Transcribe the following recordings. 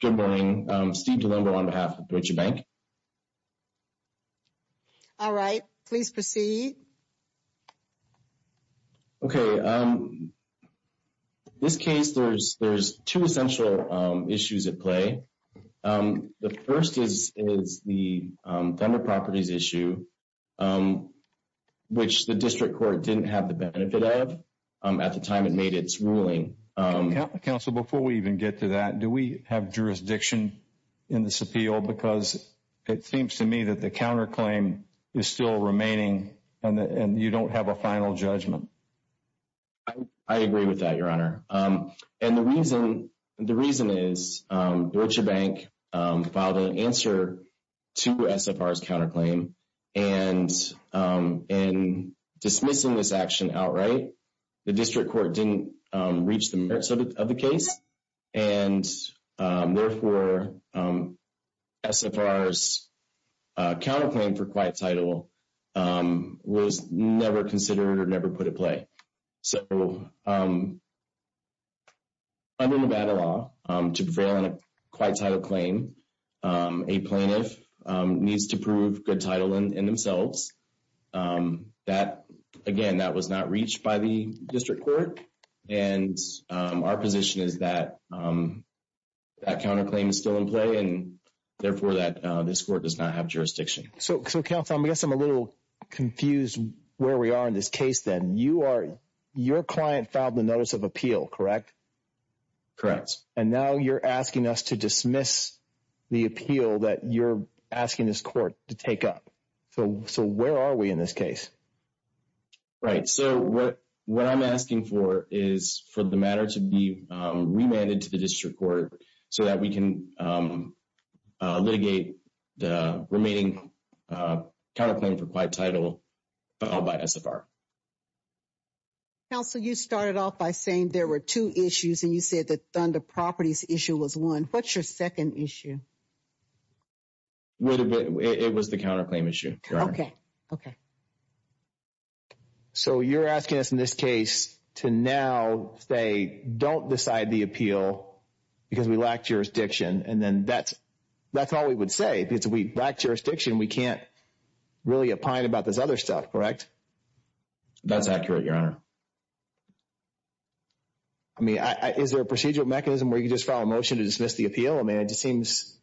Good morning, Steve DeLombo on behalf of Deutsche Bank. All right, please proceed. Okay, this case, there's 2 essential issues at play. The 1st is the vendor properties issue. Which the district court didn't have the benefit of at the time it made its ruling. Counsel, before we even get to that, do we have jurisdiction in this appeal? Because it seems to me that the counterclaim is still remaining and you don't have a final judgment. I agree with that, Your Honor. And the reason is Deutsche Bank filed an answer to SFR's counterclaim. And in dismissing this action outright, the district court didn't reach the merits of the case. And therefore, SFR's counterclaim for quiet title was never considered or never put at play. So, under Nevada law, to prevail on a quiet title claim, a plaintiff needs to prove good title in themselves. Again, that was not reached by the district court. And our position is that that counterclaim is still in play and therefore that this court does not have jurisdiction. So, counsel, I guess I'm a little confused where we are in this case then. Your client filed the notice of appeal, correct? Correct. And now you're asking us to dismiss the appeal that you're asking this court to take up. So, where are we in this case? Right. So, what I'm asking for is for the matter to be remanded to the district court so that we can litigate the remaining counterclaim for quiet title filed by SFR. Counsel, you started off by saying there were two issues and you said the Thunder Properties issue was one. What's your second issue? Wait a minute. It was the counterclaim issue, Your Honor. Okay. Okay. So, you're asking us in this case to now say don't decide the appeal because we lack jurisdiction. And then that's all we would say because we lack jurisdiction. We can't really opine about this other stuff, correct? That's accurate, Your Honor. I mean, is there a procedural mechanism where you just file a motion to dismiss the appeal? I mean, it just seems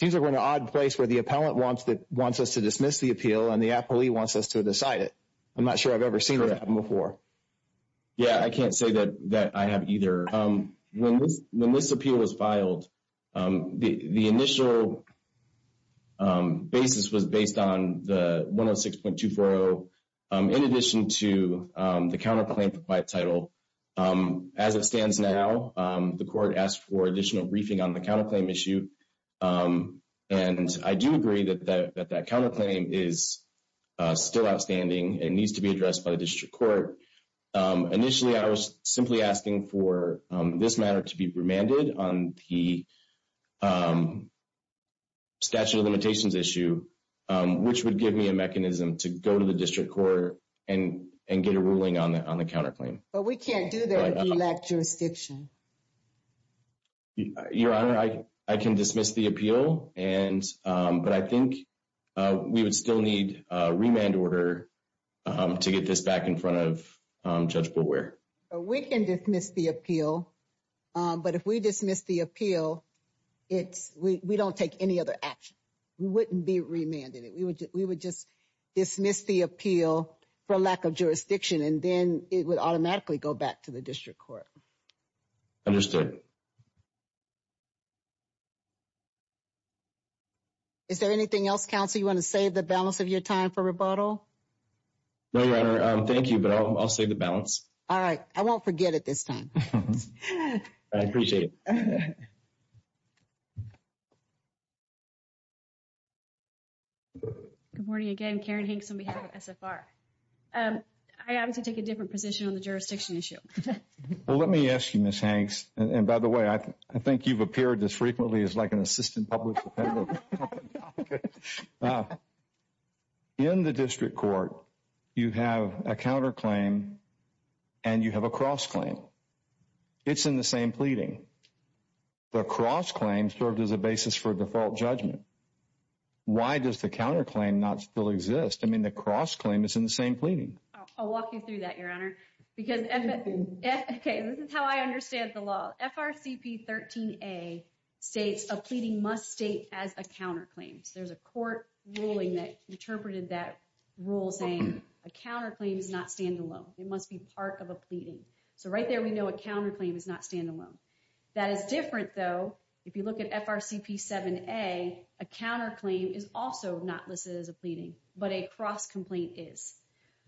like we're in an odd place where the appellant wants us to dismiss the appeal and the appellee wants us to decide it. I'm not sure I've ever seen that before. Yeah, I can't say that I have either. When this appeal was filed, the initial basis was based on the 106.240 in addition to the counterclaim for quiet title. As it stands now, the court asked for additional briefing on the counterclaim issue. And I do agree that that counterclaim is still outstanding. It needs to be addressed by the district court. Initially, I was simply asking for this matter to be remanded on the statute of limitations issue, which would give me a mechanism to go to the district court and get a ruling on the counterclaim. But we can't do that if we lack jurisdiction. Your Honor, I can dismiss the appeal, but I think we would still need a remand order to get this back in front of Judge Brewer. We can dismiss the appeal. But if we dismiss the appeal, we don't take any other action. We wouldn't be remanded. We would just dismiss the appeal for lack of jurisdiction, and then it would automatically go back to the district court. Understood. Is there anything else, counsel, you want to save the balance of your time for rebuttal? No, Your Honor. Thank you, but I'll save the balance. All right. I won't forget it this time. I appreciate it. Good morning again. Karen Hanks on behalf of SFR. I have to take a different position on the jurisdiction issue. Well, let me ask you, Ms. Hanks, and by the way, I think you've appeared this frequently as like an assistant public defender. Okay. In the district court, you have a counterclaim and you have a cross-claim. It's in the same pleading. The cross-claim served as a basis for default judgment. Why does the counterclaim not still exist? I mean, the cross-claim is in the same pleading. I'll walk you through that, Your Honor. Because, okay, this is how I understand the law. FRCP 13A states a pleading must state as a counterclaim. So there's a court ruling that interpreted that rule saying a counterclaim is not standalone. It must be part of a pleading. So right there, we know a counterclaim is not standalone. That is different, though. If you look at FRCP 7A, a counterclaim is also not listed as a pleading, but a cross-complaint is.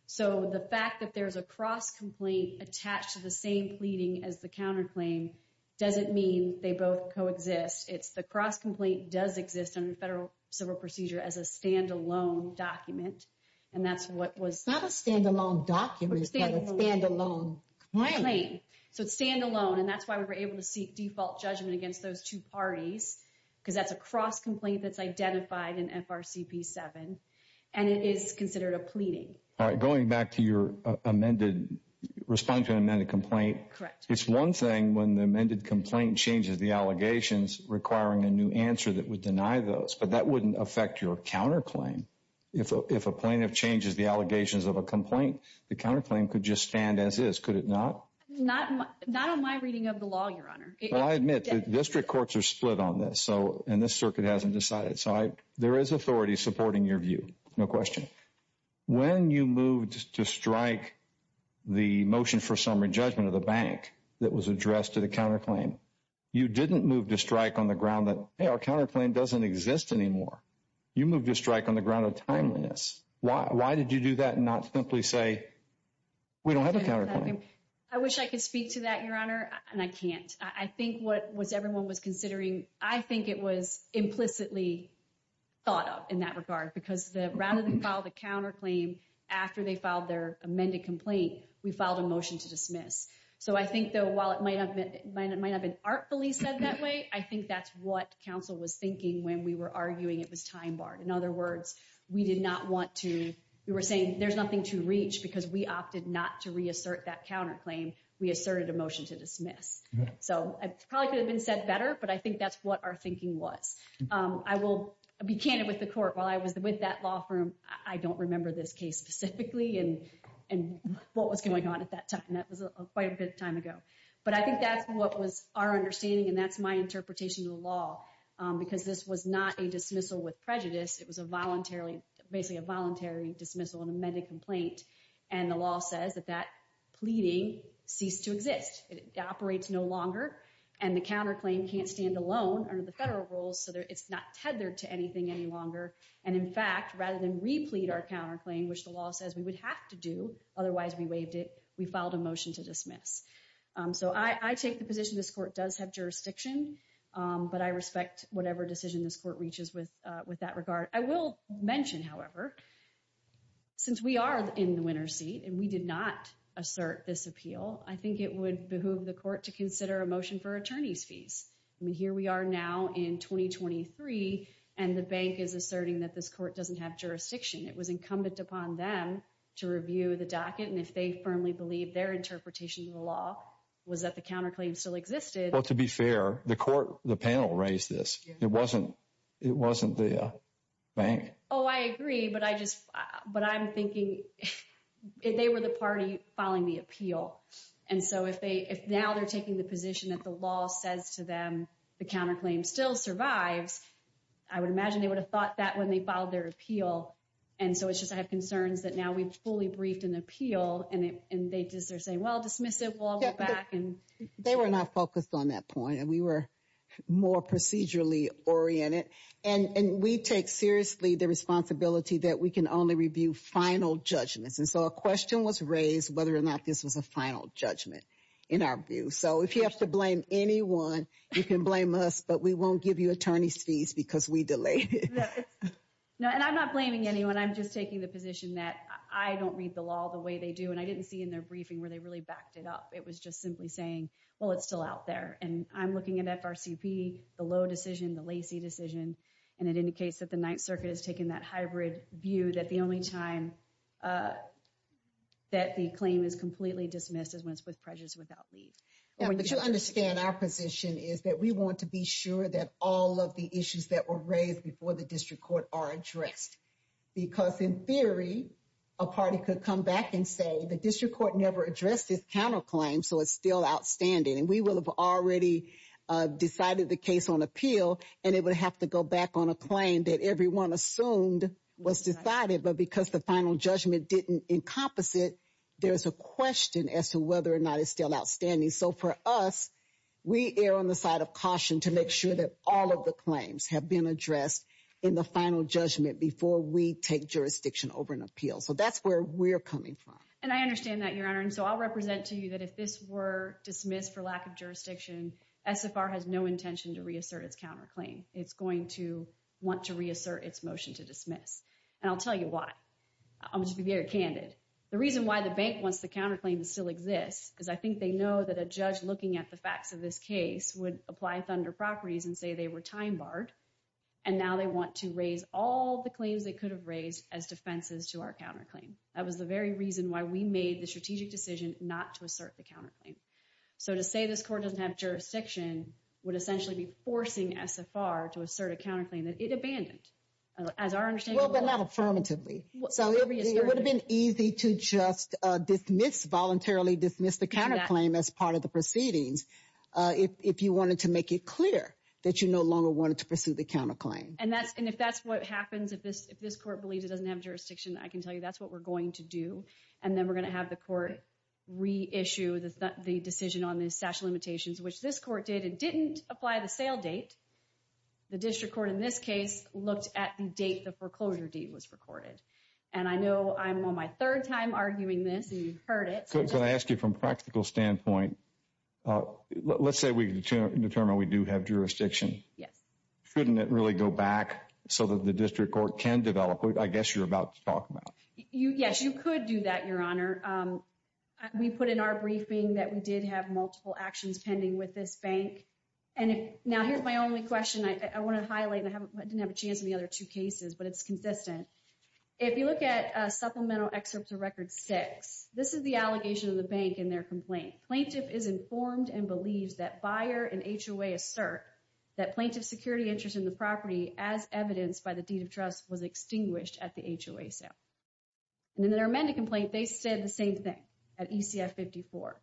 So the fact that there's a cross-complaint attached to the same pleading as the counterclaim doesn't mean they both coexist. It's the cross-complaint does exist under federal civil procedure as a standalone document. And that's what was... Not a standalone document, but a standalone claim. So it's standalone. And that's why we were able to seek default judgment against those two parties, because that's a cross-complaint that's identified in FRCP 7. And it is considered a pleading. All right. Going back to your amended... Respond to an amended complaint. Correct. It's one thing when the amended complaint changes the allegations requiring a new answer that would deny those, but that wouldn't affect your counterclaim. If a plaintiff changes the allegations of a complaint, the counterclaim could just stand as is. Could it not? Not on my reading of the law, Your Honor. I admit that district courts are split on this. So... And this circuit hasn't decided. There is authority supporting your view. No question. When you moved to strike the motion for summary judgment of the bank that was addressed to the counterclaim, you didn't move to strike on the ground that, hey, our counterclaim doesn't exist anymore. You moved to strike on the ground of timeliness. Why did you do that and not simply say, we don't have a counterclaim? I wish I could speak to that, Your Honor. And I can't. I think what everyone was considering, I think it was implicitly thought of in that regard because rather than file the counterclaim after they filed their amended complaint, we filed a motion to dismiss. So I think, though, while it might have been artfully said that way, I think that's what counsel was thinking when we were arguing it was time-barred. In other words, we did not want to... We were saying there's nothing to reach because we opted not to reassert that counterclaim. We asserted a motion to dismiss. So it probably could have been said better, but I think that's what our thinking was. I will be candid with the court. While I was with that law firm, I don't remember this case specifically and what was going on at that time. That was quite a bit of time ago. But I think that's what was our understanding. And that's my interpretation of the law because this was not a dismissal with prejudice. It was basically a voluntary dismissal and amended complaint. And the law says that that pleading ceased to exist. It operates no longer. And the counterclaim can't stand alone under the federal rules so that it's not tethered to anything any longer. And in fact, rather than replete our counterclaim, which the law says we would have to do, otherwise we waived it, we filed a motion to dismiss. So I take the position this court does have jurisdiction, but I respect whatever decision this court reaches with that regard. I will mention, however, and we did not assert this appeal, I think it would behoove the court to consider a motion for attorney's fees. I mean, here we are now in 2023 and the bank is asserting that this court doesn't have jurisdiction. It was incumbent upon them to review the docket. And if they firmly believe their interpretation of the law was that the counterclaim still existed. Well, to be fair, the court, the panel raised this. It wasn't the bank. Oh, I agree. But I'm thinking they were the party filing the appeal. And so if now they're taking the position that the law says to them the counterclaim still survives, I would imagine they would have thought that when they filed their appeal. And so it's just, I have concerns that now we've fully briefed an appeal and they just are saying, well, dismiss it, we'll all go back. And they were not focused on that point. And we were more procedurally oriented. And we take seriously the responsibility that we can only review final judgments. And so a question was raised whether or not this was a final judgment in our view. So if you have to blame anyone, you can blame us, but we won't give you attorney's fees because we delayed it. No, and I'm not blaming anyone. I'm just taking the position that I don't read the law the way they do. And I didn't see in their briefing where they really backed it up. It was just simply saying, well, it's still out there. And I'm looking at FRCP, the low decision, the lacy decision. And it indicates that the Ninth Circuit has taken that hybrid view that the only time that the claim is completely dismissed is when it's with prejudice without leave. Yeah, but you understand our position is that we want to be sure that all of the issues that were raised before the district court are addressed. Because in theory, a party could come back and say the district court never addressed this counterclaim. So it's still outstanding. And we will have already decided the case on appeal. And it would have to go back on a claim that everyone assumed was decided. But because the final judgment didn't encompass it, there's a question as to whether or not it's still outstanding. So for us, we err on the side of caution to make sure that all of the claims have been addressed in the final judgment before we take jurisdiction over an appeal. So that's where we're coming from. And I understand that, Your Honor. And so I'll represent to you that if this were dismissed for lack of jurisdiction, SFR has no intention to reassert its counterclaim. It's going to want to reassert its motion to dismiss. And I'll tell you why. I'm just being very candid. The reason why the bank wants the counterclaim to still exist is I think they know that a judge looking at the facts of this case would apply thunder properties and say they were time barred. And now they want to raise all the claims they could have raised as defenses to our counterclaim. That was the very reason why we made the strategic decision not to assert the counterclaim. So to say this court doesn't have jurisdiction would essentially be forcing SFR to assert a counterclaim that it abandoned. As our understanding... Well, but not affirmatively. So it would have been easy to just dismiss voluntarily, dismiss the counterclaim as part of the proceedings. If you wanted to make it clear that you no longer wanted to pursue the counterclaim. And if that's what happens, if this court believes it doesn't have jurisdiction, I can tell you that's what we're going to do. And then we're going to have the court reissue the decision on the statute of limitations, which this court did. It didn't apply the sale date. The district court in this case looked at the date the foreclosure deed was recorded. And I know I'm on my third time arguing this and you've heard it. So can I ask you from a practical standpoint, let's say we determine we do have jurisdiction. Yes. Couldn't it really go back so that the district court can develop it? I guess you're about to talk about it. Yes, you could do that, Your Honor. We put in our briefing that we did have multiple actions pending with this bank. And now here's my only question I want to highlight and I didn't have a chance in the other two cases, but it's consistent. If you look at Supplemental Excerpt to Record 6, this is the allegation of the bank in their complaint. Plaintiff is informed and believes that buyer and HOA assert that plaintiff's security interest in the property as evidenced by the deed of trust was extinguished at the HOA sale. And in their amended complaint, they said the same thing at ECF 54.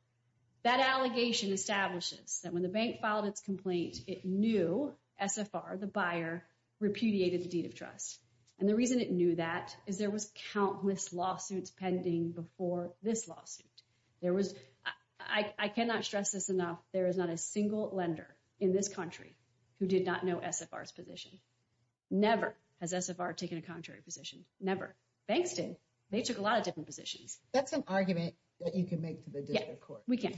That allegation establishes that when the bank filed its complaint, it knew SFR, the buyer, repudiated the deed of trust. And the reason it knew that is there was countless lawsuits pending before this lawsuit. There was, I cannot stress this enough, there is not a single lender in this country who did not know SFR's position. Never has SFR taken a contrary position. Never. Banks did. They took a lot of different positions. That's an argument that you can make to the district court. We can,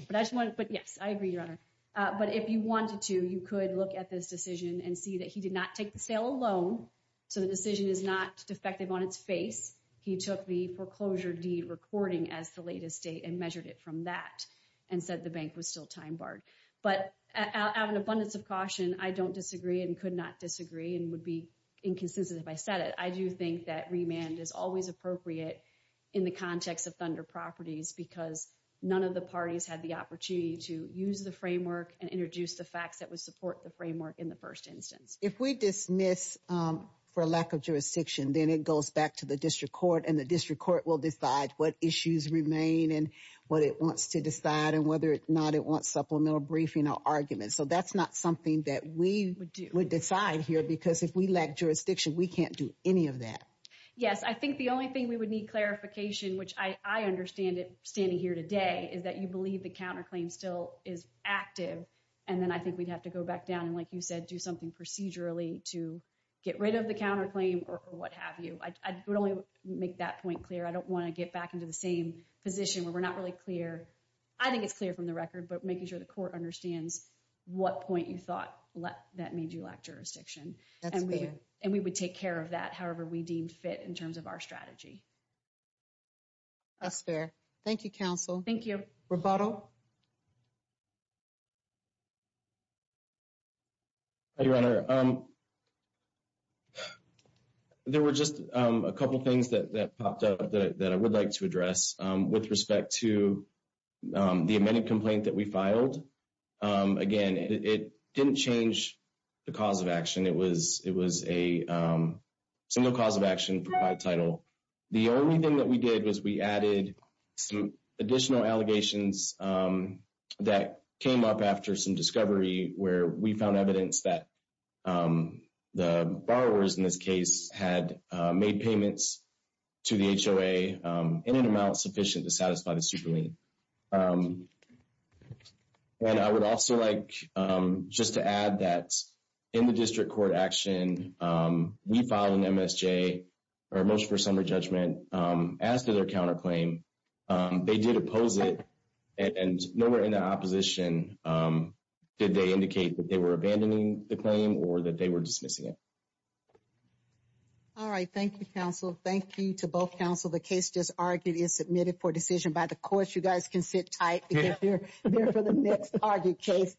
but yes, I agree, Your Honor. But if you wanted to, you could look at this decision and see that he did not take the sale alone. So the decision is not defective on its face. He took the foreclosure deed recording as the latest date and measured it from that and said the bank was still time barred. But out of an abundance of caution, I don't disagree and could not disagree and would be inconsistent if I said it. I do think that remand is always appropriate in the context of Thunder Properties because none of the parties had the opportunity to use the framework and introduce the facts that would support the framework in the first instance. If we dismiss for lack of jurisdiction, then it goes back to the district court and the district court will decide what issues remain and what it wants to decide and whether or not it wants supplemental briefing or arguments. So that's not something that we would decide here because if we lack jurisdiction, we can't do any of that. Yes, I think the only thing we would need clarification, which I understand it standing here today, is that you believe the counterclaim still is active. And then I think we'd have to go back down and like you said, do something procedurally to get rid of the counterclaim or what have you. I would only make that point clear. I don't want to get back into the same position where we're not really clear. I think it's clear from the record, but making sure the court understands what point you thought that made you lack jurisdiction. And we would take care of that, however we deemed fit in terms of our strategy. That's fair. Thank you, counsel. Thank you. Rebotto? Hi, Your Honor. There were just a couple of things that popped up that I would like to address with respect to the amended complaint that we filed. Again, it didn't change the cause of action. It was a single cause of action for my title. The only thing that we did was we added some additional allegations that came up after some discovery where we found evidence that the borrowers in this case had made payments to the HOA in an amount sufficient to satisfy the super lien. And I would also like just to add that in the district court action, we filed an MSJ, or motion for summary judgment, as to their counterclaim. They did oppose it. And nowhere in the opposition did they indicate that they were abandoning the claim or that they were dismissing it. All right. Thank you, counsel. Thank you to both counsel. The case just argued is submitted for decision by the courts. You guys can sit tight because they're for the next argued case.